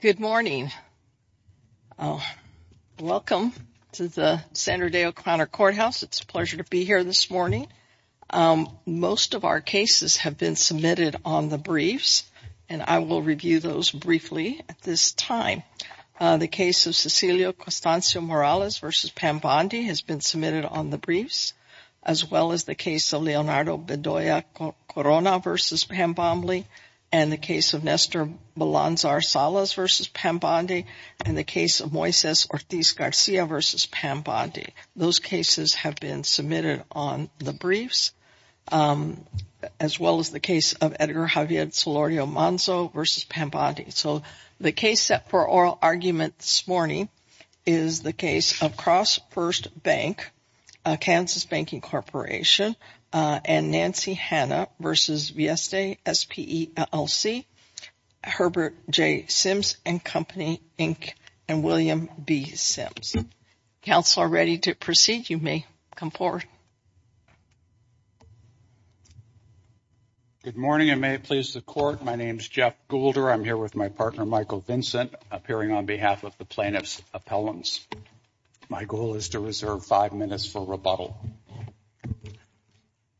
Good morning. Welcome to the Sandra Day O'Connor Courthouse. It's a pleasure to be here this morning. Most of our cases have been submitted on the briefs and I will review those briefly at this time. The case of Cecilio Costanzo Morales versus Pambondi has been submitted on the briefs as well as the case of Leonardo Bedoya Corona versus Pambondi and the case of Nestor Balanzar Salas versus Pambondi and the case of Moises Ortiz Garcia versus Pambondi. Those cases have been submitted on the briefs as well as the case of Edgar Javier Solorio Manso versus Pambondi. So the case set for oral argument this morning is the case of Cross First Bank Kansas Banking Corporation and Nancy Hanna versus Vieste SPE, LLC. Herbert J. Sims and Company Inc. and William B. Sims. Counsel are ready to proceed. You may come forward. Good morning. I may please the court. My name is Jeff Goulder. I'm here with my partner Michael Vincent appearing on behalf of the plaintiff's appellants. My goal is to reserve five minutes for rebuttal.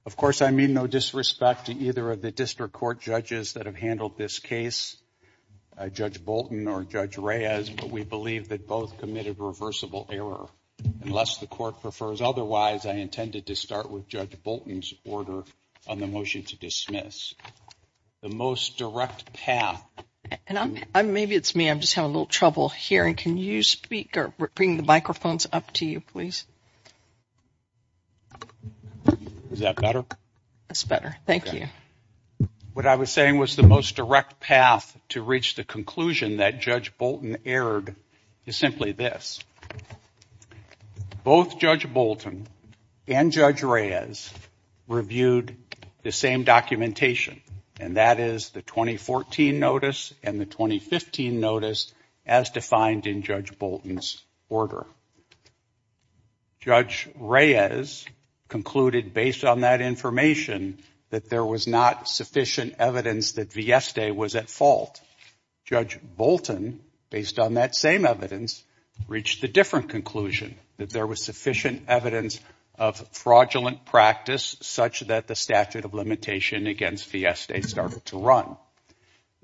Of course, I mean no disrespect to either of the district court judges that have handled this case, Judge Bolton or Judge Reyes, but we believe that both committed reversible error. Unless the court prefers otherwise, I intended to start with Judge Bolton's order on the motion to dismiss. The most direct path. And maybe it's me, I'm just having a little trouble hearing. Can you speak or bring the microphones up to you, please? Is that better? That's better. Thank you. What I was saying was the most direct path to reach the conclusion that Judge Bolton erred is simply this. Both Judge Bolton and Judge Reyes reviewed the same documentation and that is the 2014 notice and the 2015 notice as defined in Judge Bolton's order. Judge Reyes concluded based on that information that there was not sufficient evidence that Vieste was at fault. Judge Bolton, based on that same evidence, reached the different conclusion that there was sufficient evidence of fraudulent practice such that the statute of limitation against Vieste started to run.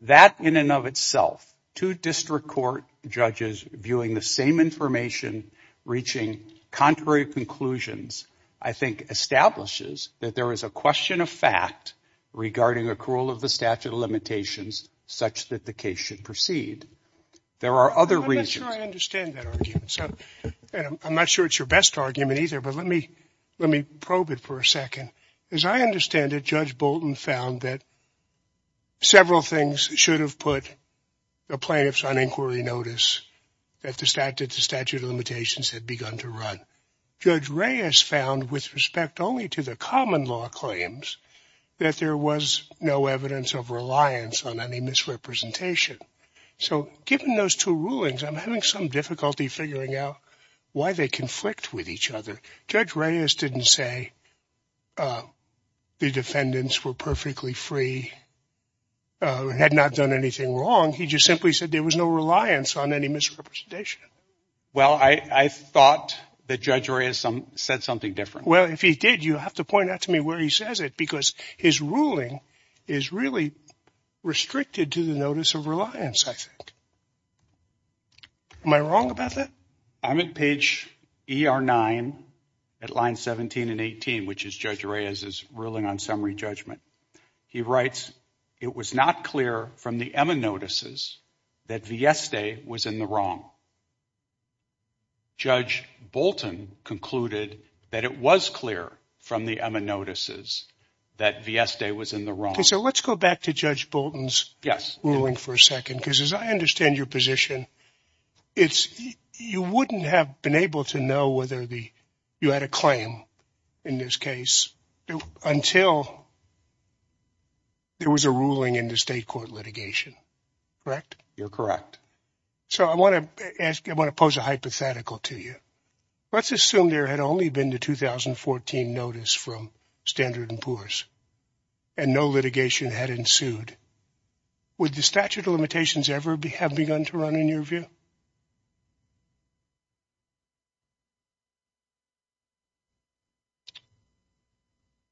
That in and of itself, two district court judges viewing the same information reaching contrary conclusions, I think establishes that there is a question of fact regarding accrual of the statute of limitations such that the case should proceed. There are other reasons. I'm not sure I understand that argument. I'm not sure it's your best argument either, but let me probe it for a second. As I understand it, Judge Bolton found that several things should have put the plaintiffs on inquiry notice that the statute of limitations had begun to run. Judge Reyes found with respect only to the common law claims that there was no evidence of reliance on any misrepresentation. So given those two rulings, I'm having some difficulty figuring out why they conflict with each other. Judge Reyes didn't say the defendants were perfectly free, had not done anything wrong. He just simply said there was no reliance on any misrepresentation. Well, I thought that Judge Reyes said something different. Well, if he did, you have to point out to me where he says it because his ruling is really restricted to the notice of reliance, I think. Am I wrong about that? I'm at page ER9 at line 17 and 18, which is Judge Reyes's ruling on summary judgment. He writes, it was not clear from the EMA notices that Vieste was in the wrong. Judge Bolton concluded that it was clear from the EMA notices that Vieste was in the wrong. So let's go back to Judge Bolton's ruling for a second, because as I understand your position, you wouldn't have been able to know whether you had a claim in this case until there was a ruling in the state court litigation, correct? You're correct. So I want to ask, I want to pose a hypothetical to you. Let's assume there had only been the 2014 notice from Standard & Poor's and no litigation had ensued. Would the statute of limitations ever have begun to run in your view?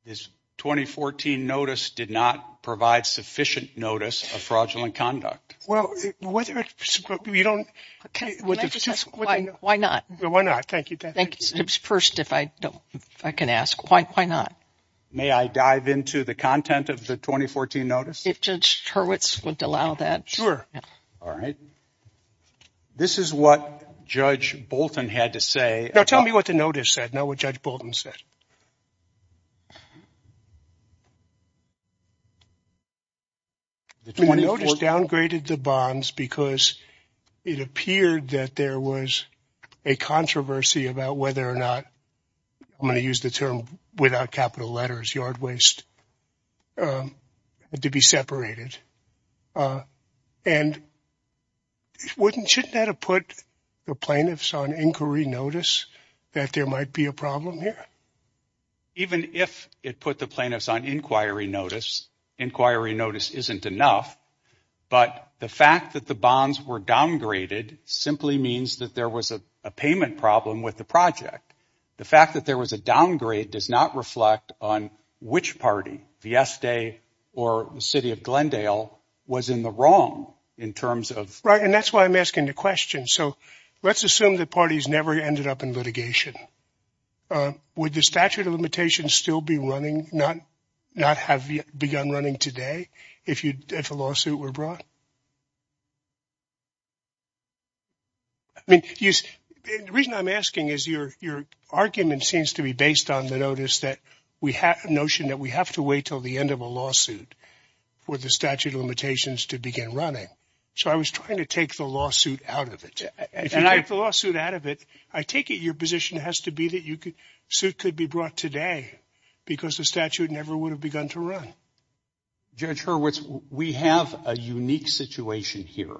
This 2014 notice did not provide sufficient notice of fraudulent conduct. Well, why not? Why not? Thank you. First, if I can ask, why not? May I dive into the content of the 2014 notice? If Judge Hurwitz would allow that. Sure. All right. This is what Judge Bolton had to say. Now tell me what the notice said, not what Judge Bolton said. The 2014 notice downgraded the bonds because it appeared that there was a controversy about whether or not, I'm going to use the term without capital letters, yard waste, to be separated. And shouldn't that have put the plaintiffs on inquiry notice that there might be a problem here? Even if it put the plaintiffs on inquiry notice, inquiry notice isn't enough. But the fact that the bonds were downgraded simply means that there was a payment problem with the project. The fact that there was a downgrade does not reflect on which party, Fiesta or the city of Glendale, was in the wrong in terms of. Right. And that's why I'm asking the question. So let's assume that parties never ended up in litigation. Would the statute of limitations still be running, not have begun running today if a lawsuit were brought? I mean, the reason I'm asking is your argument seems to be based on the notice that we have a notion that we have to wait till the end of a lawsuit for the statute of limitations to begin running. So I was trying to take the lawsuit out of it. And I have the lawsuit out of it. I take it. Your position has to be that you could suit could be brought today because the statute never would have begun to run. Judge Hurwitz, we have a unique situation here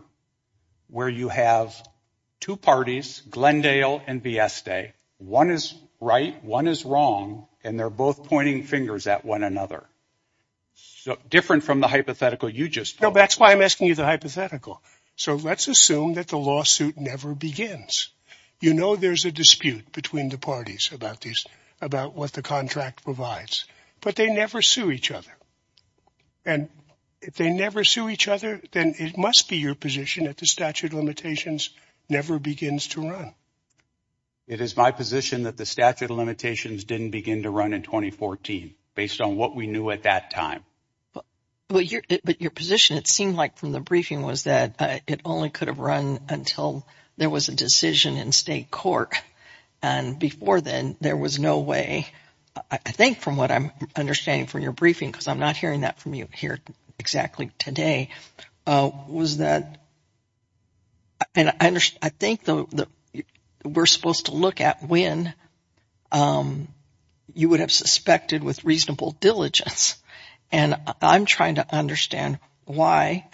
where you have two parties, Glendale and Biesta. One is right. One is wrong. And they're both pointing fingers at one another. So different from the hypothetical you just know, that's why I'm asking you the hypothetical. So let's assume that the lawsuit never begins. You know, there's a dispute between the parties about this, about what the contract provides, but they never sue each other. And if they never sue each other, then it must be your position that the statute of limitations never begins to run. It is my position that the statute of limitations didn't begin to run in 2014 based on what we knew at that time. But your position, it seemed like from the briefing, was that it only could have run until there was a decision in state court. And before then, there was no way. I think from what I'm understanding from your briefing, because I'm not hearing that from you here exactly today, was that. I think that we're supposed to look at when you would have suspected with reasonable diligence. And I'm trying to understand why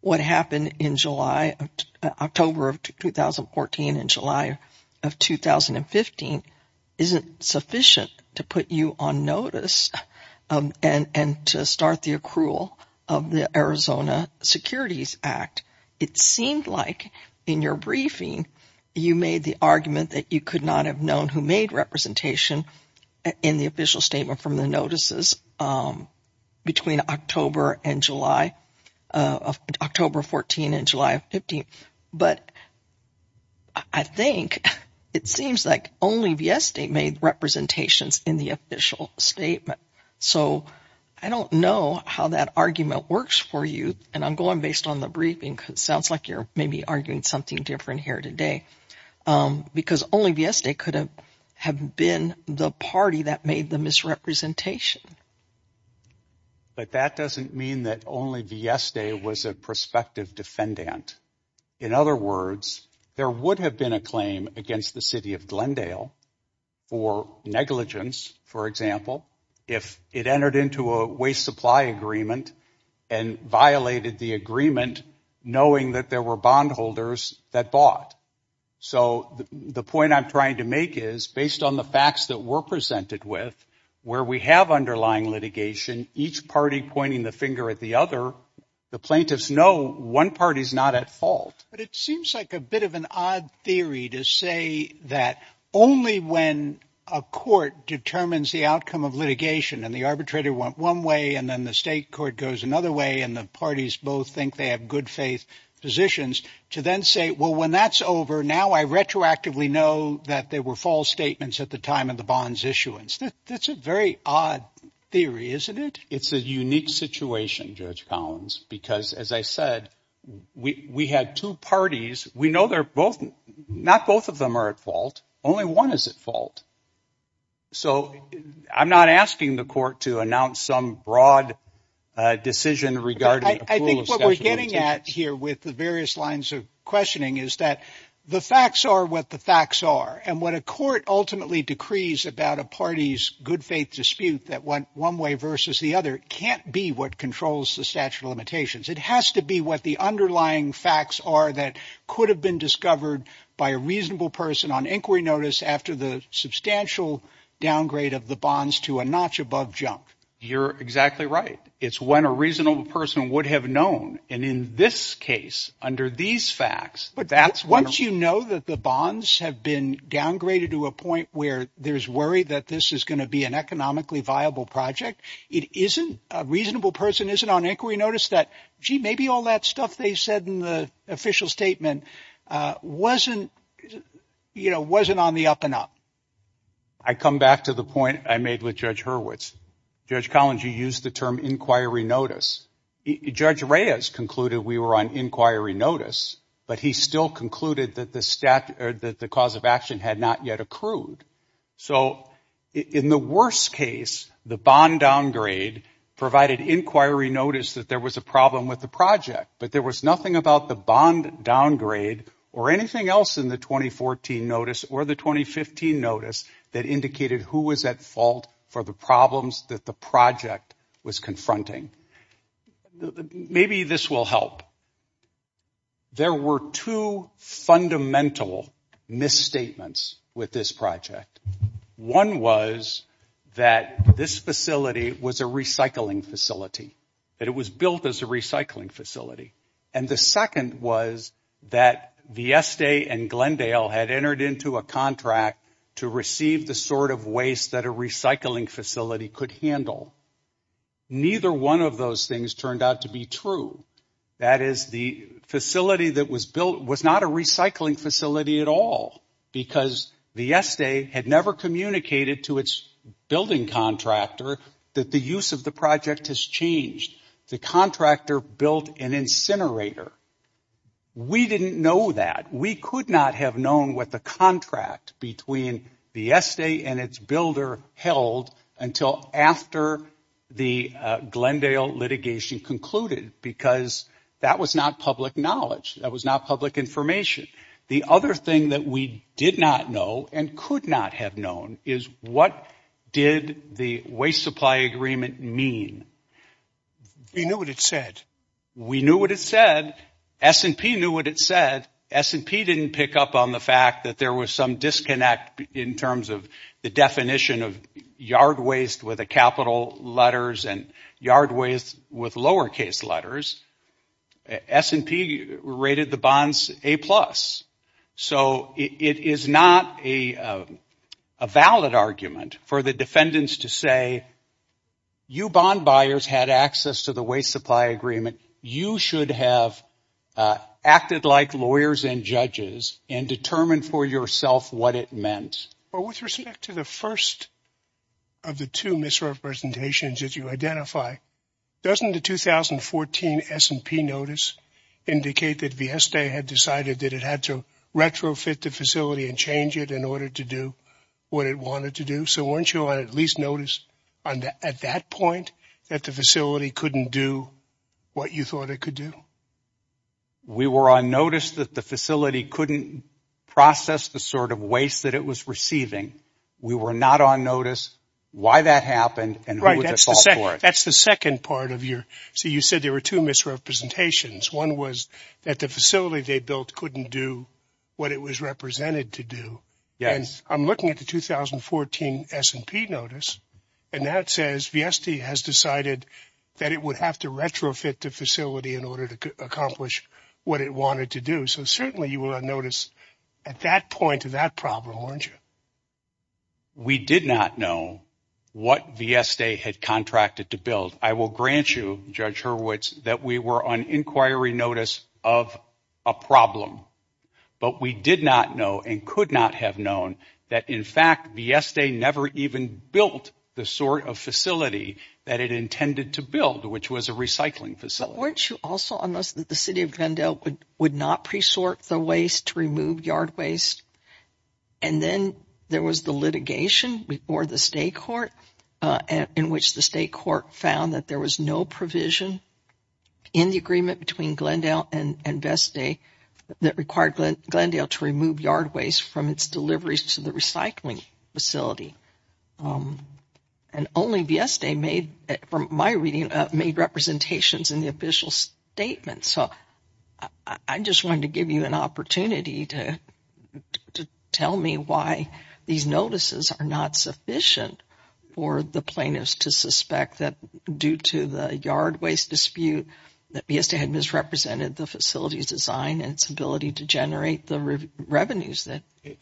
what happened in July, October of 2014 and July of 2015 isn't sufficient to put you on notice and to start the accrual of the Arizona Securities Act. It seemed like in your briefing, you made the argument that you could not have known who made representation in the official statement from the notices between October and July, October 14 and July 15. But I think it seems like only V.S. State made representations in the official statement. So I don't know how that argument works for you. And I'm going based on the briefing because it sounds like you're maybe arguing something different here today. Because only V.S. State could have been the party that made the misrepresentation. But that doesn't mean that only V.S. State was a prospective defendant. In other words, there would have been a claim against the city of Glendale for negligence, for example, if it entered into a waste supply agreement and violated the agreement knowing that there were bondholders that bought. So the point I'm trying to make is, based on the facts that were presented with, where we have underlying litigation, each party pointing the finger at the other, the plaintiffs know one party is not at fault. But it seems like a bit of an odd theory to say that only when a court determines the outcome of litigation and the arbitrator went one way and then the state court goes another way and the parties both think they have good faith positions, to then say, well, when that's over now, I retroactively know that there were false statements at the time of the bonds issuance. That's a very odd theory, isn't it? It's a unique situation, Judge Collins, because as I said, we had two parties. We know they're both not both of them are at fault. Only one is at fault. So I'm not asking the court to announce some broad decision regarding. I think what we're getting at here with the various lines of questioning is that the facts are what the facts are. And what a court ultimately decrees about a party's good faith dispute that went one way versus the other can't be what controls the statute of limitations. It has to be what the underlying facts are that could have been discovered by a reasonable person on inquiry notice after the substantial downgrade of the bonds to a notch above jump. You're exactly right. It's when a reasonable person would have known. And in this case, under these facts, but that's once you know that the bonds have been downgraded to a point where there's worry that this is going to be an economically viable project. It isn't a reasonable person isn't on inquiry notice that she may be all that stuff they said in the official statement wasn't, you know, wasn't on the up and up. I come back to the point I made with Judge Hurwitz. Judge Collins, you use the term inquiry notice. Judge Reyes concluded we were on inquiry notice, but he still concluded that the statute that the cause of action had not yet accrued. So in the worst case, the bond downgrade provided inquiry notice that there was a problem with the project. But there was nothing about the bond downgrade or anything else in the 2014 notice or the 2015 notice that indicated who was at fault for the problems that the project was confronting. Maybe this will help. There were two fundamental misstatements with this project. One was that this facility was a recycling facility, that it was built as a recycling facility. And the second was that Vieste and Glendale had entered into a contract to receive the sort of waste that a recycling facility could handle. Neither one of those things turned out to be true. That is, the facility that was built was not a recycling facility at all. Because Vieste had never communicated to its building contractor that the use of the project has changed. The contractor built an incinerator. We didn't know that. We could not have known what the contract between Vieste and its builder held until after the Glendale litigation concluded, because that was not public knowledge. That was not public information. The other thing that we did not know and could not have known is what did the waste supply agreement mean? We knew what it said. S&P knew what it said. S&P didn't pick up on the fact that there was some disconnect in terms of the definition of yard waste with the capital letters and yard waste with lowercase letters. S&P rated the bonds A+. So it is not a valid argument for the defendants to say, you bond buyers had access to the waste supply agreement. You should have acted like lawyers and judges and determined for yourself what it meant. With respect to the first of the two misrepresentations that you identify, doesn't the 2014 S&P notice indicate that Vieste had decided that it had to retrofit the facility and change it in order to do what it wanted to do? So weren't you on at least notice at that point that the facility couldn't do what you thought it could do? We were on notice that the facility couldn't process the sort of waste that it was receiving. We were not on notice why that happened and who was at fault for it. That's the second part of your – so you said there were two misrepresentations. One was that the facility they built couldn't do what it was represented to do. I'm looking at the 2014 S&P notice and that says Vieste has decided that it would have to retrofit the facility in order to accomplish what it wanted to do. So certainly you were on notice at that point of that problem, weren't you? We did not know what Vieste had contracted to build. I will grant you, Judge Hurwitz, that we were on inquiry notice of a problem. But we did not know and could not have known that in fact Vieste never even built the sort of facility that it intended to build, which was a recycling facility. But weren't you also on notice that the city of Glendale would not pre-sort the waste to remove yard waste? And then there was the litigation before the state court in which the state court found that there was no provision in the agreement between Glendale and Vieste that required Glendale to remove yard waste from its deliveries to the recycling facility. And only Vieste made, from my reading, made representations in the official statement. So I just wanted to give you an opportunity to tell me why these notices are not sufficient for the plaintiffs to suspect that due to the yard waste dispute that Vieste had misrepresented the facility's design and its ability to generate the revenues.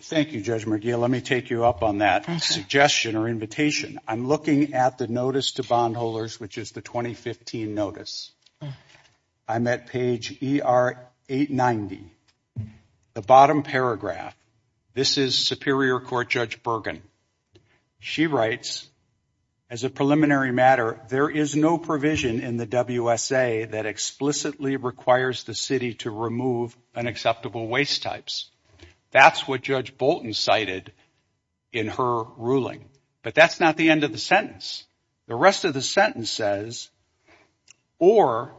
Thank you, Judge McGill. Let me take you up on that suggestion or invitation. I'm looking at the notice to bondholders, which is the 2015 notice. I'm at page 890. The bottom paragraph, this is Superior Court Judge Bergen. She writes, as a preliminary matter, there is no provision in the WSA that explicitly requires the city to remove unacceptable waste types. That's what Judge Bolton cited in her ruling. But that's not the end of the sentence. The rest of the sentence says, or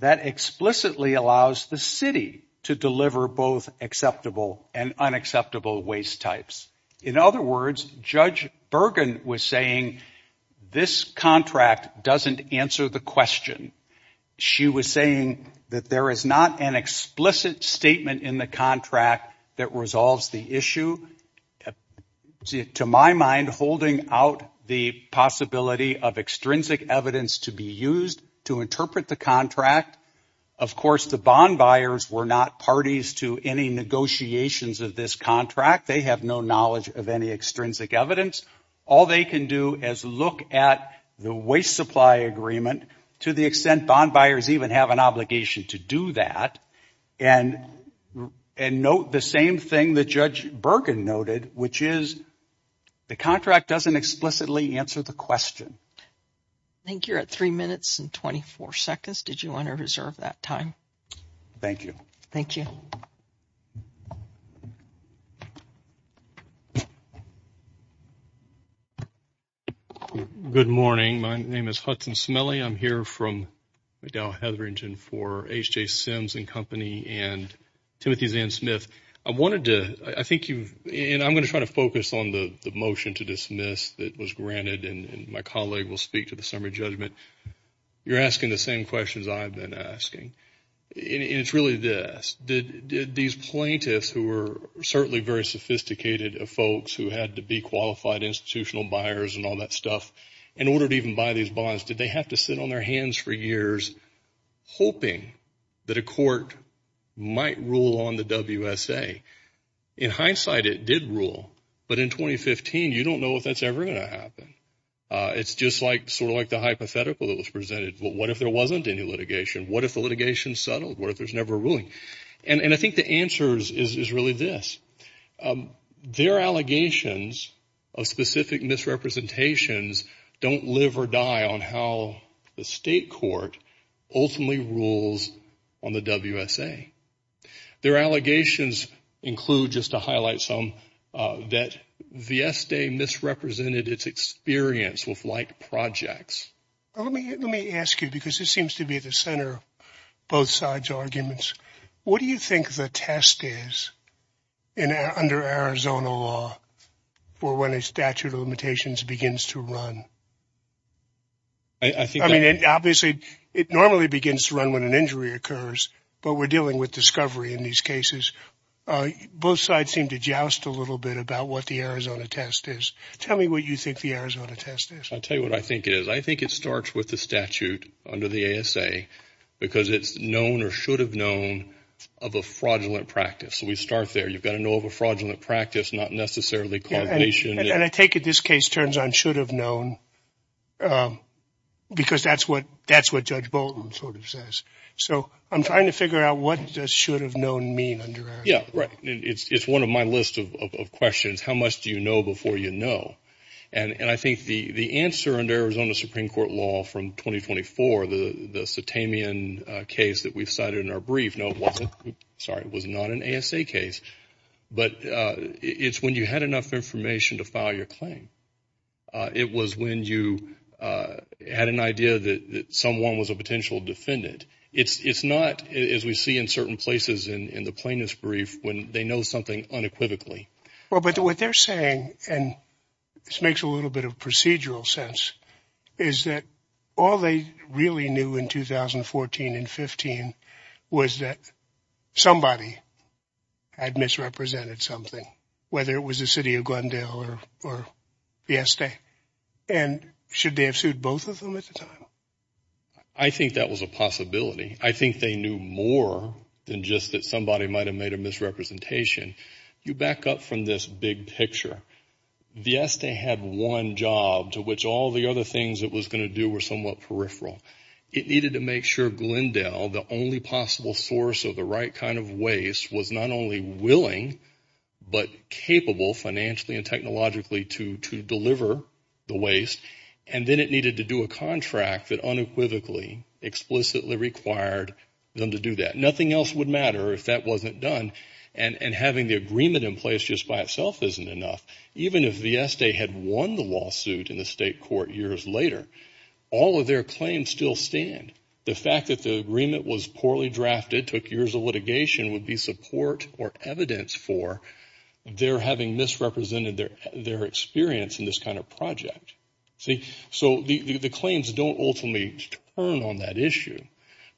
that explicitly allows the city to deliver both acceptable and unacceptable waste types. In other words, Judge Bergen was saying this contract doesn't answer the question. She was saying that there is not an explicit statement in the contract that resolves the issue. To my mind, holding out the possibility of extrinsic evidence to be used to interpret the contract, of course, the bond buyers were not parties to any negotiations of this contract. They have no knowledge of any extrinsic evidence. All they can do is look at the waste supply agreement to the extent bond buyers even have an obligation to do that and note the same thing that Judge Bergen noted, which is the contract doesn't explicitly answer the question. I think you're at 3 minutes and 24 seconds. Did you want to reserve that time? Thank you. Thank you. Good morning. My name is Hudson Smiley. I'm here from Dow Hetherington for H.J. Sims and Company and Timothy Zan Smith. I wanted to, I think you've, and I'm going to try to focus on the motion to dismiss that was granted and my colleague will speak to the summary judgment. You're asking the same questions I've been asking. And it's really this. Did these plaintiffs who were certainly very sophisticated folks who had to be qualified institutional buyers and all that stuff in order to even buy these bonds, did they have to sit on their hands for years, hoping that a court might rule on the WSA? In hindsight, it did rule. But in 2015, you don't know if that's ever going to happen. It's just like, sort of like the hypothetical that was presented. What if there wasn't any litigation? What if the litigation settled? What if there's never a ruling? And I think the answer is really this. Their allegations of specific misrepresentations don't live or die on how the state court ultimately rules on the WSA. Their allegations include, just to highlight some, that Vieste misrepresented its experience with like projects. Let me ask you, because this seems to be at the center of both sides' arguments. What do you think the test is under Arizona law for when a statute of limitations begins to run? I mean, obviously, it normally begins to run when an injury occurs, but we're dealing with discovery in these cases. Both sides seem to joust a little bit about what the Arizona test is. Tell me what you think the Arizona test is. I'll tell you what I think it is. I think it starts with the statute under the ASA, because it's known or should have known of a fraudulent practice. So we start there. You've got to know of a fraudulent practice, not necessarily causation. And I take it this case turns on should have known, because that's what Judge Bolton sort of says. So I'm trying to figure out what does should have known mean under Arizona. Yeah, right. It's one of my list of questions. How much do you know before you know? And I think the answer under Arizona Supreme Court law from 2024, the Satamian case that we've cited in our brief, no, it wasn't. Sorry, it was not an ASA case. But it's when you had enough information to file your claim. It was when you had an idea that someone was a potential defendant. It's not, as we see in certain places in the plaintiff's brief, when they know something unequivocally. Well, but what they're saying, and this makes a little bit of procedural sense, is that all they really knew in 2014 and 15 was that somebody had misrepresented something, whether it was the city of Glendale or Fiesta. And should they have sued both of them at the time? I think that was a possibility. I think they knew more than just that somebody might have made a misrepresentation. You back up from this big picture. Fiesta had one job to which all the other things it was going to do were somewhat peripheral. It needed to make sure Glendale, the only possible source of the right kind of waste, was not only willing but capable financially and technologically to deliver the waste. And then it needed to do a contract that unequivocally, explicitly required them to do that. Nothing else would matter if that wasn't done. And having the agreement in place just by itself isn't enough. Even if Fiesta had won the lawsuit in the state court years later, all of their claims still stand. The fact that the agreement was poorly drafted, took years of litigation, would be support or evidence for their having misrepresented their experience in this kind of project. So the claims don't ultimately turn on that issue.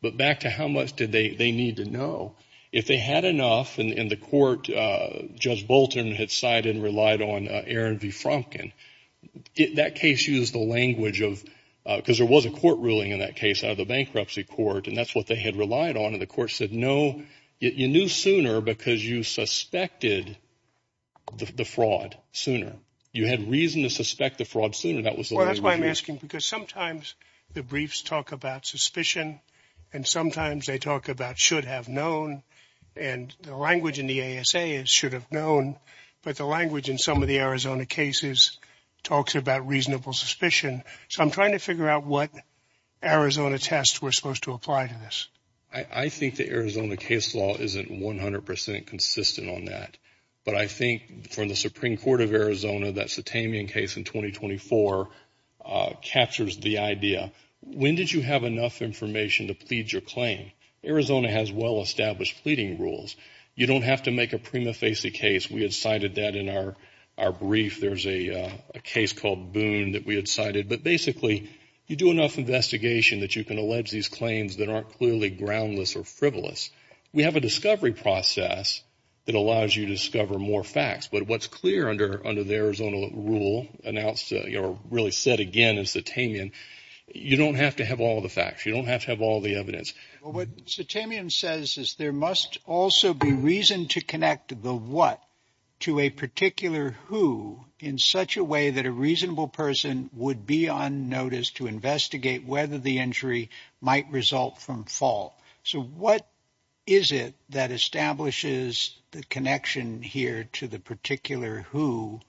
But back to how much did they need to know? If they had enough, and the court, Judge Bolton had sided and relied on Aaron V. Frumpkin, that case used the language of, because there was a court ruling in that case out of the bankruptcy court, and that's what they had relied on. And the court said, no, you knew sooner because you suspected the fraud sooner. You had reason to suspect the fraud sooner. That was the language used. Because sometimes the briefs talk about suspicion, and sometimes they talk about should have known, and the language in the ASA is should have known. But the language in some of the Arizona cases talks about reasonable suspicion. So I'm trying to figure out what Arizona tests were supposed to apply to this. I think the Arizona case law isn't 100 percent consistent on that. But I think from the Supreme Court of Arizona, that Satamian case in 2024 captures the idea. When did you have enough information to plead your claim? Arizona has well-established pleading rules. You don't have to make a prima facie case. We had cited that in our brief. There's a case called Boone that we had cited. But basically, you do enough investigation that you can allege these claims that aren't clearly groundless or frivolous. We have a discovery process that allows you to discover more facts. But what's clear under the Arizona rule announced or really said again in Satamian, you don't have to have all the facts. You don't have to have all the evidence. What Satamian says is there must also be reason to connect the what to a particular who in such a way that a reasonable person would be on notice to investigate whether the injury might result from fault. So what is it that establishes the connection here to the particular who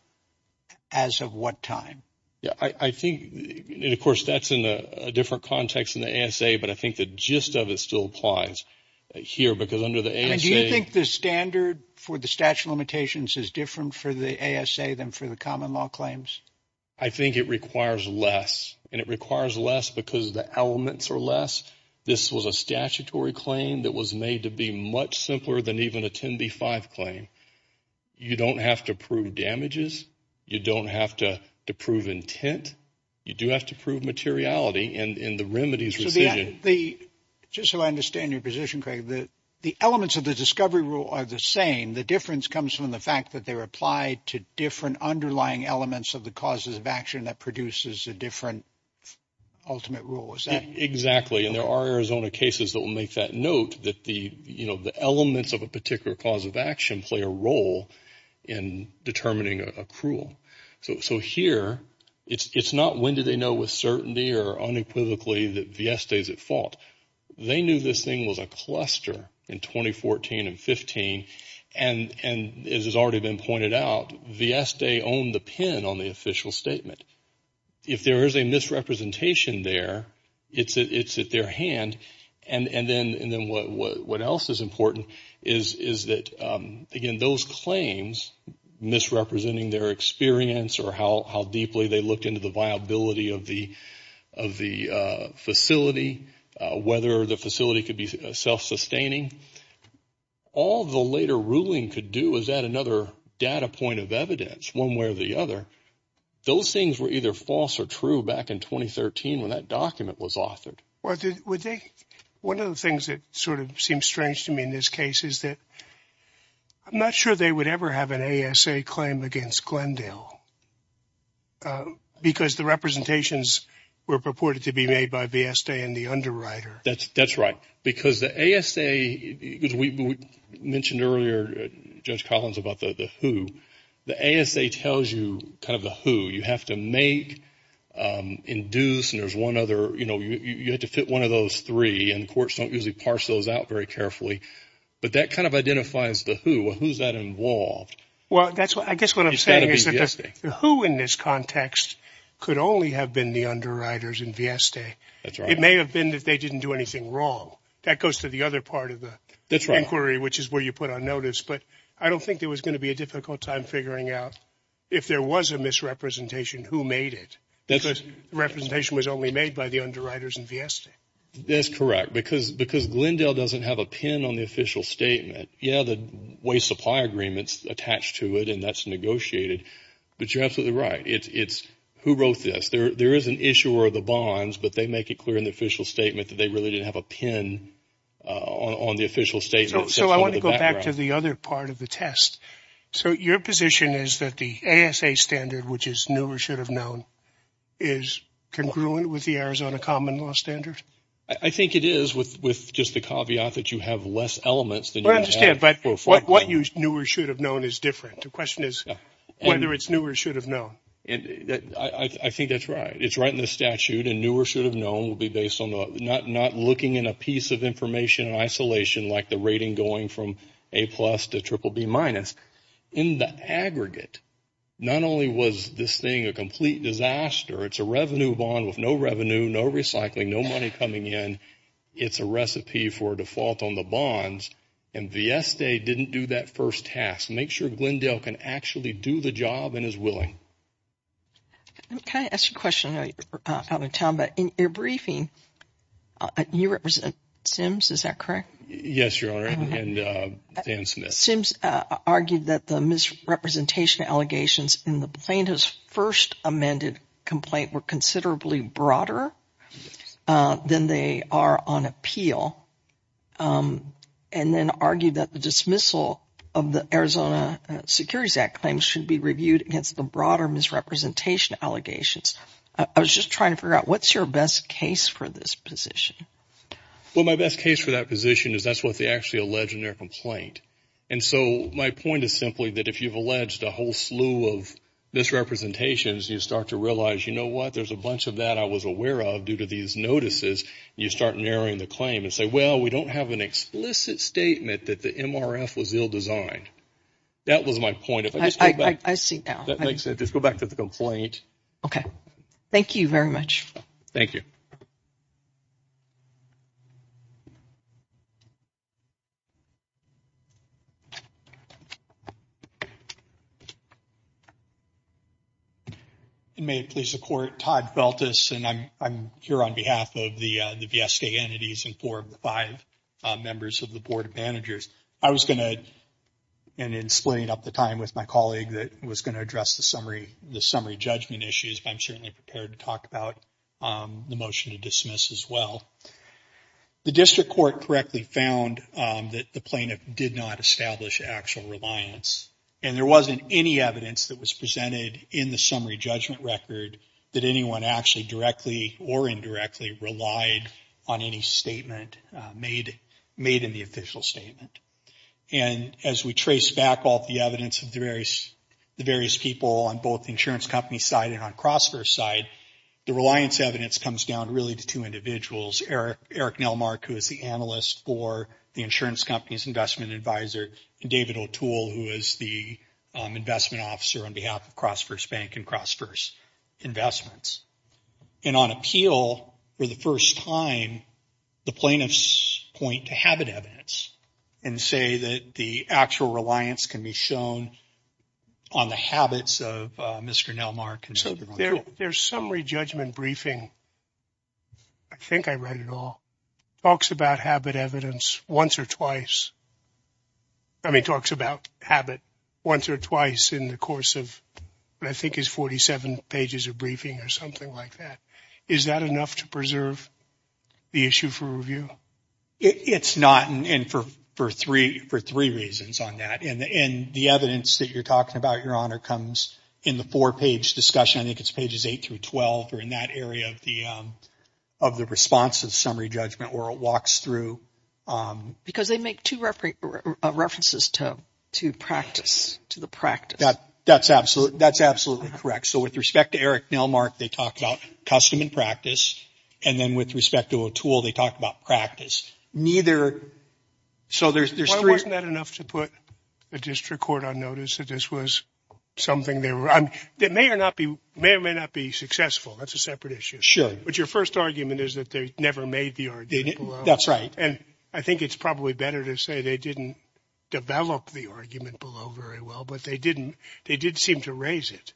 as of what time? Yeah, I think, of course, that's in a different context than the ASA. But I think the gist of it still applies here because under the ASA. Do you think the standard for the statute of limitations is different for the ASA than for the common law claims? I think it requires less and it requires less because the elements are less. This was a statutory claim that was made to be much simpler than even attend the five claim. You don't have to prove damages. You don't have to prove intent. You do have to prove materiality. And in the remedies, the just so I understand your position, Craig, that the elements of the discovery rule are the same. The difference comes from the fact that they were applied to different underlying elements of the causes of action that produces a different ultimate rule. Exactly. And there are Arizona cases that will make that note that the elements of a particular cause of action play a role in determining accrual. So here it's not when do they know with certainty or unequivocally that Vieste is at fault. They knew this thing was a cluster in 2014 and 15. And as has already been pointed out, Vieste owned the pin on the official statement. If there is a misrepresentation there, it's at their hand. And then what else is important is that, again, those claims, misrepresenting their experience or how deeply they looked into the viability of the facility, whether the facility could be self-sustaining, all the later ruling could do is add another data point of evidence one way or the other. Those things were either false or true back in 2013 when that document was authored. One of the things that sort of seems strange to me in this case is that I'm not sure they would ever have an ASA claim against Glendale because the representations were purported to be made by Vieste and the underwriter. That's right. Because the ASA, as we mentioned earlier, Judge Collins, about the who, the ASA tells you kind of the who. You have to make, induce, and there's one other, you know, you have to fit one of those three and courts don't usually parse those out very carefully. But that kind of identifies the who. Who is that involved? Well, I guess what I'm saying is that the who in this context could only have been the underwriters in Vieste. That's right. It may have been that they didn't do anything wrong. That goes to the other part of the inquiry, which is where you put on notice. But I don't think there was going to be a difficult time figuring out if there was a misrepresentation who made it because the representation was only made by the underwriters in Vieste. That's correct. Because Glendale doesn't have a pin on the official statement. Yeah, the waste supply agreement is attached to it and that's negotiated. But you're absolutely right. It's who wrote this. There is an issuer of the bonds, but they make it clear in the official statement that they really didn't have a pin on the official statement. So I want to go back to the other part of the test. So your position is that the ASA standard, which is new or should have known, is congruent with the Arizona common law standard? I think it is with just the caveat that you have less elements than you have. I understand. But what new or should have known is different. The question is whether it's new or should have known. I think that's right. It's right in the statute. And new or should have known will be based on not looking in a piece of information in isolation like the rating going from A plus to triple B minus. In the aggregate, not only was this thing a complete disaster, it's a revenue bond with no revenue, no recycling, no money coming in. It's a recipe for default on the bonds. And Vieste didn't do that first task. Make sure Glendale can actually do the job and is willing. Can I ask a question? In your briefing, you represent Sims, is that correct? Yes, Your Honor, and Dan Smith. Sims argued that the misrepresentation allegations in the plaintiff's first amended complaint were considerably broader than they are on appeal and then argued that the dismissal of the Arizona Securities Act claims should be reviewed against the broader misrepresentation allegations. I was just trying to figure out what's your best case for this position? Well, my best case for that position is that's what they actually allege in their complaint. And so my point is simply that if you've alleged a whole slew of misrepresentations, you start to realize, you know what, there's a bunch of that I was aware of due to these notices. You start narrowing the claim and say, well, we don't have an explicit statement that the MRF was ill-designed. That was my point. I see now. Just go back to the complaint. Okay. Thank you very much. Thank you. And may it please the court, Todd Feltis, and I'm here on behalf of the VSK entities and four of the five members of the board of managers. I was going to, and in splitting up the time with my colleague, that was going to address the summary judgment issues, but I'm certainly prepared to talk about the motion to dismiss as well. The district court correctly found that the plaintiff did not establish actual reliance. And there wasn't any evidence that was presented in the summary judgment record that anyone actually directly or indirectly relied on any statement made in the official statement. And as we trace back all the evidence of the various people on both the insurance company side and on CrossFirst's side, the reliance evidence comes down really to two individuals, Eric Nelmark, who is the analyst for the insurance company's investment advisor, and David O'Toole, who is the investment officer on behalf of CrossFirst Bank and CrossFirst Investments. And on appeal for the first time, the plaintiffs point to habit evidence and say that the actual reliance can be shown on the habits of Mr. Nelmark. There's summary judgment briefing. I think I read it all. It talks about habit evidence once or twice. I mean, it talks about habit once or twice in the course of what I think is 47 pages of briefing or something like that. Is that enough to preserve the issue for review? It's not, and for three reasons on that. And the evidence that you're talking about, Your Honor, comes in the four-page discussion. I think it's pages 8 through 12 or in that area of the response of summary judgment where it walks through. Because they make two references to practice, to the practice. That's absolutely correct. So with respect to Eric Nelmark, they talk about custom and practice, and then with respect to O'Toole, they talk about practice. Why wasn't that enough to put a district court on notice that this was something that may or may not be successful? That's a separate issue. Sure. But your first argument is that they never made the argument below. That's right. And I think it's probably better to say they didn't develop the argument below very well, but they did seem to raise it.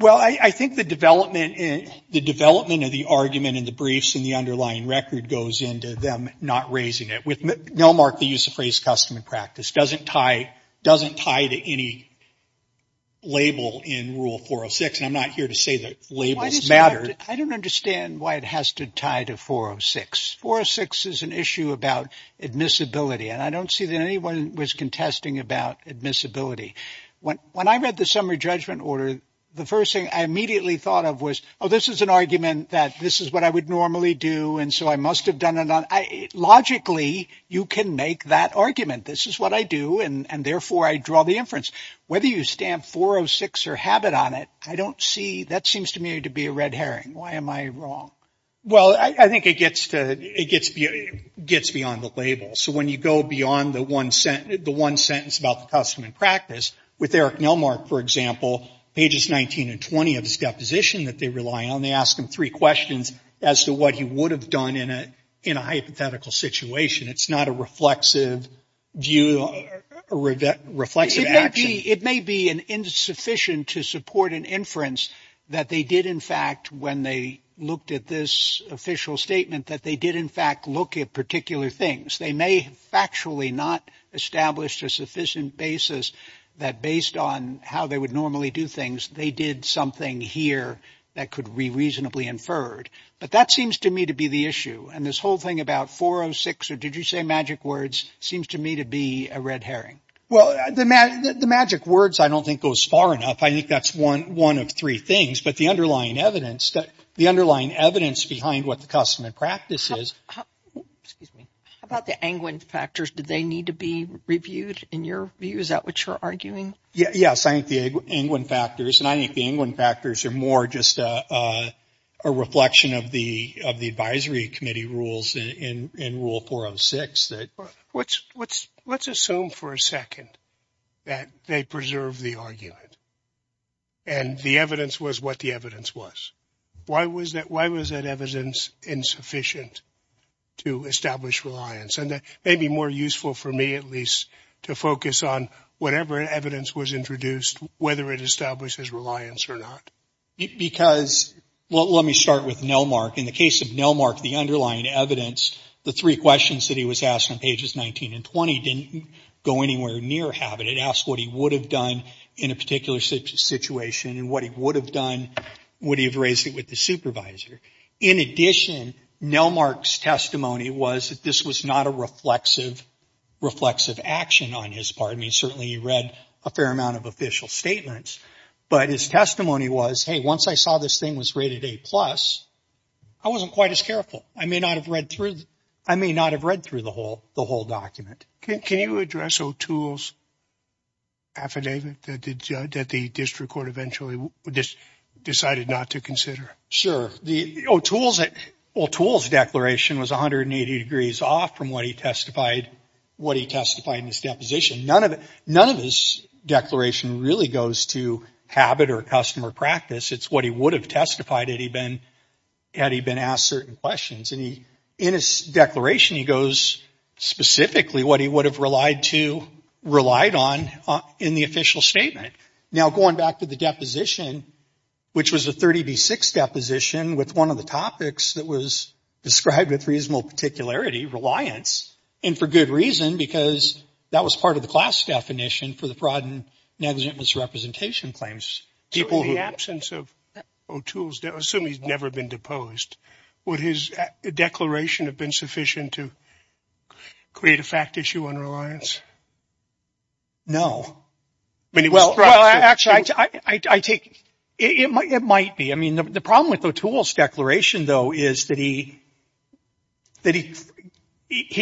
Well, I think the development of the argument in the briefs and the underlying record goes into them not raising it. With Nelmark, the use of the phrase custom and practice doesn't tie to any label in Rule 406, and I'm not here to say that labels matter. I don't understand why it has to tie to 406. 406 is an issue about admissibility, and I don't see that anyone was contesting about admissibility. When I read the summary judgment order, the first thing I immediately thought of was, oh, this is an argument that this is what I would normally do, and so I must have done it. Logically, you can make that argument. This is what I do, and, therefore, I draw the inference. Whether you stamp 406 or habit on it, I don't see, that seems to me to be a red herring. Why am I wrong? Well, I think it gets beyond the label. So when you go beyond the one sentence about the custom and practice, with Eric Nelmark, for example, pages 19 and 20 of his deposition that they rely on, they ask him three questions as to what he would have done in a hypothetical situation. It's not a reflexive view or reflexive action. It may be insufficient to support an inference that they did, in fact, when they looked at this official statement, that they did, in fact, look at particular things. They may have factually not established a sufficient basis that, based on how they would normally do things, they did something here that could be reasonably inferred. But that seems to me to be the issue, and this whole thing about 406, or did you say magic words, seems to me to be a red herring. Well, the magic words I don't think goes far enough. I think that's one of three things, but the underlying evidence, the underlying evidence behind what the custom and practice is. Excuse me. How about the anguined factors? Did they need to be reviewed, in your view? Is that what you're arguing? Yes, I think the anguined factors, and I think the anguined factors are more just a reflection of the advisory committee rules in Rule 406. Let's assume for a second that they preserved the argument, and the evidence was what the evidence was. Why was that evidence insufficient to establish reliance? And that may be more useful for me, at least, to focus on whatever evidence was introduced, whether it establishes reliance or not. Because, well, let me start with Nelmark. In the case of Nelmark, the underlying evidence, the three questions that he was asked on pages 19 and 20 didn't go anywhere near habit. It asked what he would have done in a particular situation, and what he would have done would he have raised it with the supervisor. In addition, Nelmark's testimony was that this was not a reflexive action on his part. I mean, certainly he read a fair amount of official statements, but his testimony was, hey, once I saw this thing was rated A+, I wasn't quite as careful. I may not have read through the whole document. Can you address O'Toole's affidavit that the district court eventually decided not to consider? Sure. O'Toole's declaration was 180 degrees off from what he testified in his deposition. None of his declaration really goes to habit or customer practice. It's what he would have testified had he been asked certain questions. And in his declaration, he goes specifically what he would have relied on in the official statement. Now, going back to the deposition, which was a 30B6 deposition with one of the topics that was described with reasonable particularity, reliance, and for good reason, because that was part of the class definition for the fraud and negligent misrepresentation claims. So in the absence of O'Toole's, assume he's never been deposed, would his declaration have been sufficient to create a fact issue on No. Well, actually, I think it might be. I mean, the problem with O'Toole's declaration, though, is that he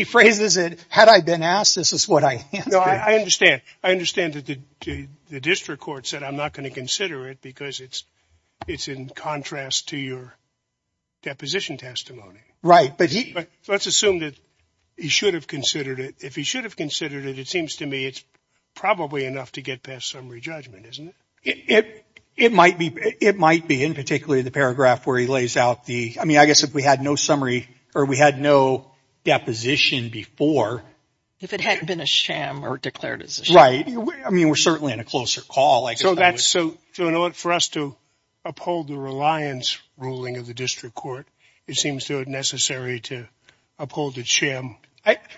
phrases it, had I been asked, this is what I answered. No, I understand. I understand that the district court said, I'm not going to consider it because it's in contrast to your deposition testimony. Right. But let's assume that he should have considered it. If he should have considered it, it seems to me it's probably enough to get past summary judgment, isn't it? It might be. In particular, the paragraph where he lays out the, I mean, I guess if we had no summary or we had no deposition before. If it had been a sham or declared as a sham. Right. I mean, we're certainly in a closer call. So in order for us to uphold the reliance ruling of the district court, it seems necessary to uphold the sham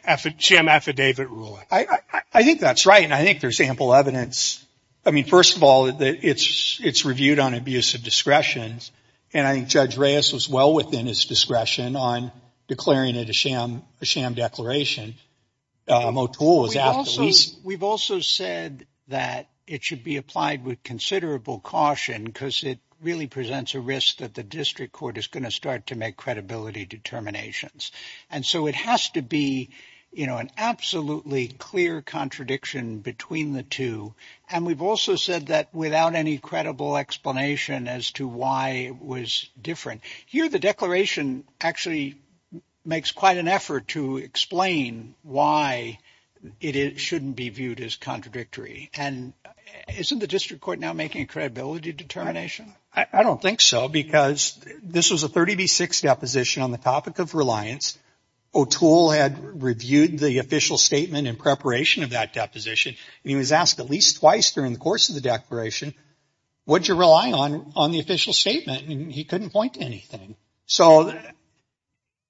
affidavit ruling. I think that's right. And I think there's ample evidence. I mean, first of all, it's reviewed on abuse of discretion. And I think Judge Reyes was well within his discretion on declaring it a sham declaration. O'Toole was asked. We've also said that it should be applied with considerable caution because it really presents a risk that the district court is going to start to make credibility determinations. And so it has to be, you know, an absolutely clear contradiction between the two. And we've also said that without any credible explanation as to why it was different here, the declaration actually makes quite an effort to explain why it shouldn't be viewed as contradictory. And isn't the district court now making a credibility determination? I don't think so. Because this was a 30B6 deposition on the topic of reliance. O'Toole had reviewed the official statement in preparation of that deposition. And he was asked at least twice during the course of the declaration, what did you rely on on the official statement? And he couldn't point to anything. So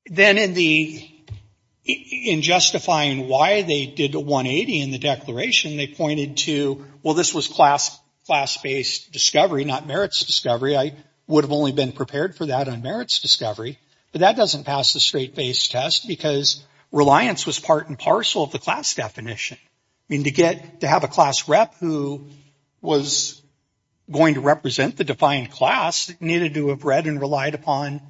then in justifying why they did a 180 in the declaration, they pointed to, well, this was class-based discovery, not merits discovery. I would have only been prepared for that on merits discovery. But that doesn't pass the straight-based test because reliance was part and parcel of the class definition. I mean, to have a class rep who was going to represent the defined class needed to have read and relied upon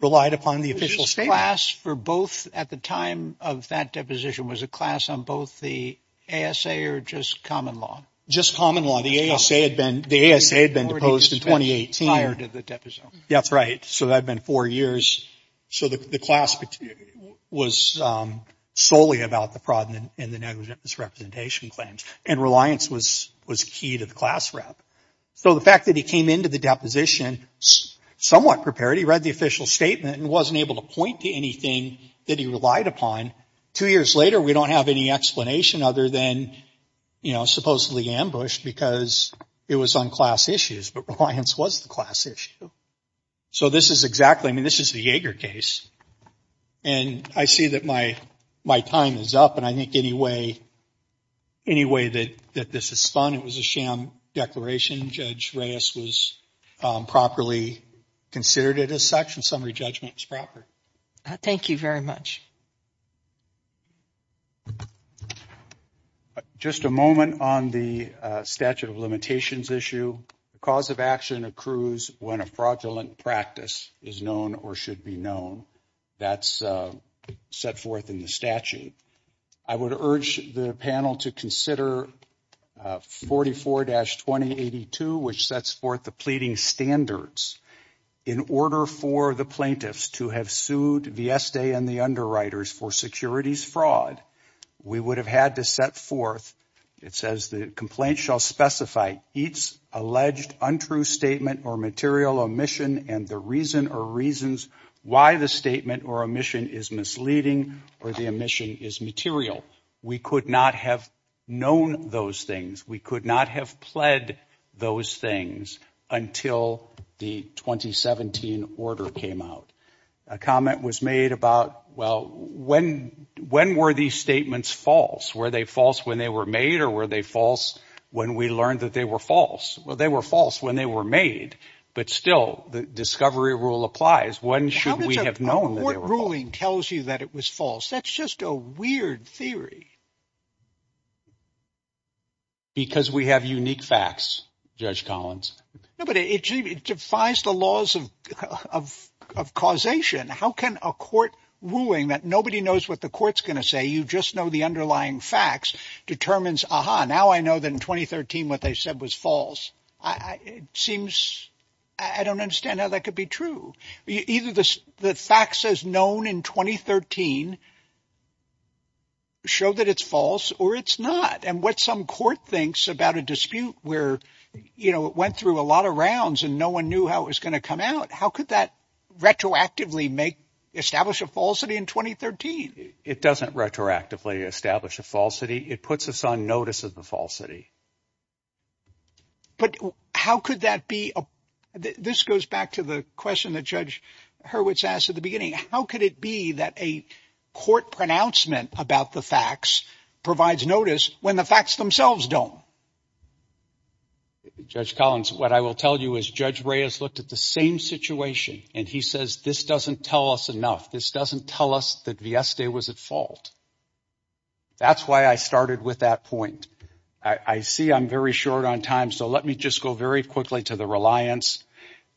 the official statement. Was this class for both at the time of that deposition, was it class on both the ASA or just common law? Just common law. The ASA had been deposed in 2018. Prior to the deposition. That's right. So that had been four years. So the class was solely about the fraud and the negligence representation claims. And reliance was key to the class rep. So the fact that he came into the deposition somewhat prepared. He read the official statement and wasn't able to point to anything that he relied upon. Two years later, we don't have any explanation other than, you know, because it was on class issues, but reliance was the class issue. So this is exactly, I mean, this is the Yeager case. And I see that my time is up, and I think any way that this is fun, it was a sham declaration. Judge Reyes was properly considered it as such, and summary judgment was proper. Thank you very much. Just a moment on the statute of limitations issue. The cause of action accrues when a fraudulent practice is known or should be known. That's set forth in the statute. I would urge the panel to consider 44-2082, which sets forth the pleading standards in order for the plaintiffs to have sued Vieste and the underwriters for securities fraud. We would have had to set forth, it says, the complaint shall specify each alleged untrue statement or material omission and the reason or reasons why the statement or omission is misleading or the omission is material. We could not have known those things. We could not have pled those things until the 2017 order came out. A comment was made about, well, when were these statements false? Were they false when they were made, or were they false when we learned that they were false? Well, they were false when they were made. But still, the discovery rule applies. When should we have known that they were false? How much of a court ruling tells you that it was false? That's just a weird theory. Because we have unique facts, Judge Collins. But it defies the laws of causation. How can a court ruling that nobody knows what the court's going to say, you just know the underlying facts, determines, aha, now I know that in 2013 what they said was false. It seems I don't understand how that could be true. Either the facts as known in 2013 show that it's false or it's not. And what some court thinks about a dispute where it went through a lot of rounds and no one knew how it was going to come out, how could that retroactively establish a falsity in 2013? It doesn't retroactively establish a falsity. It puts us on notice of the falsity. But how could that be? This goes back to the question that Judge Hurwitz asked at the beginning. How could it be that a court pronouncement about the facts provides notice when the facts themselves don't? Judge Collins, what I will tell you is Judge Reyes looked at the same situation, and he says this doesn't tell us enough. This doesn't tell us that Vieste was at fault. That's why I started with that point. I see I'm very short on time, so let me just go very quickly to the reliance.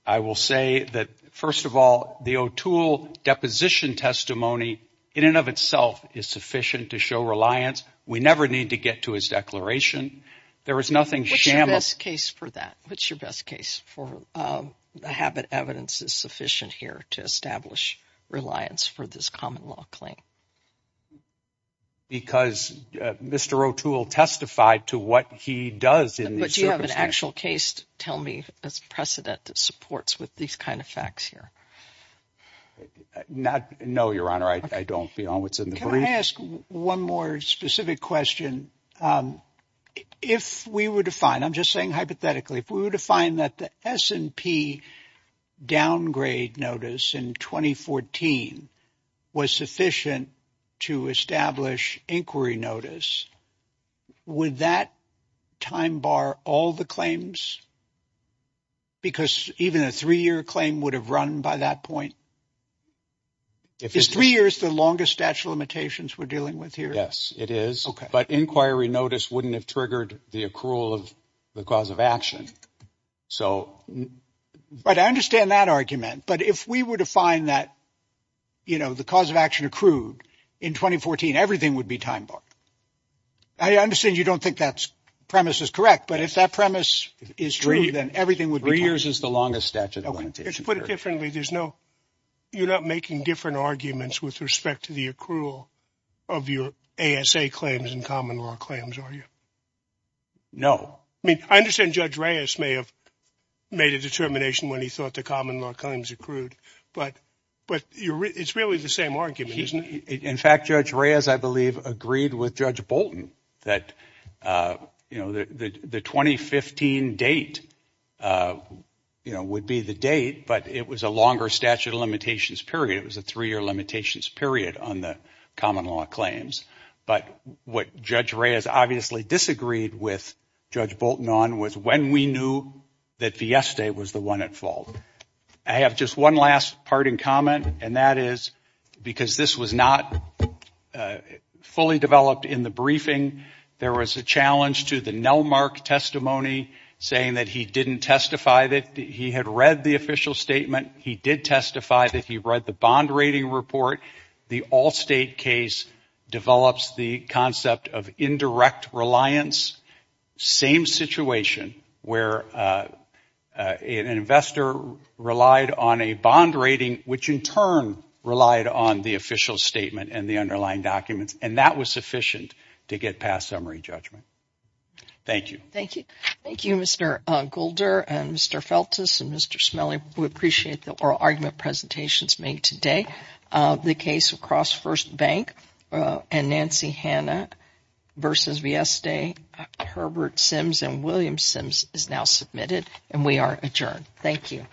I will say that, first of all, the O'Toole deposition testimony in and of itself is sufficient to show reliance. We never need to get to his declaration. There is nothing shameless. What's your best case for that? What's your best case for the habit evidence is sufficient here to establish reliance for this common law claim? Because Mr. O'Toole testified to what he does in these circumstances. But do you have an actual case to tell me, a precedent that supports with these kind of facts here? No, Your Honor, I don't beyond what's in the brief. Let me ask one more specific question. If we were to find, I'm just saying hypothetically, if we were to find that the S&P downgrade notice in 2014 was sufficient to establish inquiry notice, would that time bar all the claims? Because even a three-year claim would have run by that point. Is three years the longest statute of limitations we're dealing with here? Yes, it is. But inquiry notice wouldn't have triggered the accrual of the cause of action. But I understand that argument. But if we were to find that the cause of action accrued in 2014, everything would be time bar. I understand you don't think that premise is correct. But if that premise is true, then everything would be time bar. Three years is the longest statute of limitations. To put it differently, you're not making different arguments with respect to the accrual of your ASA claims and common law claims, are you? No. I understand Judge Reyes may have made a determination when he thought the common law claims accrued. But it's really the same argument, isn't it? In fact, Judge Reyes, I believe, agreed with Judge Bolton that the 2015 date would be the date, but it was a longer statute of limitations period. It was a three-year limitations period on the common law claims. But what Judge Reyes obviously disagreed with Judge Bolton on was when we knew that Fiesta was the one at fault. I have just one last parting comment, and that is because this was not fully developed in the briefing, there was a challenge to the Nelmark testimony, saying that he didn't testify that he had read the official statement. He did testify that he read the bond rating report. The Allstate case develops the concept of indirect reliance. Same situation where an investor relied on a bond rating, which in turn relied on the official statement and the underlying documents, and that was sufficient to get past summary judgment. Thank you. Thank you. Thank you, Mr. Golder and Mr. Feltes and Mr. Smiley. We appreciate the oral argument presentations made today. The case across First Bank and Nancy Hanna v. Fiesta, Herbert Sims and William Sims is now submitted, and we are adjourned. Thank you.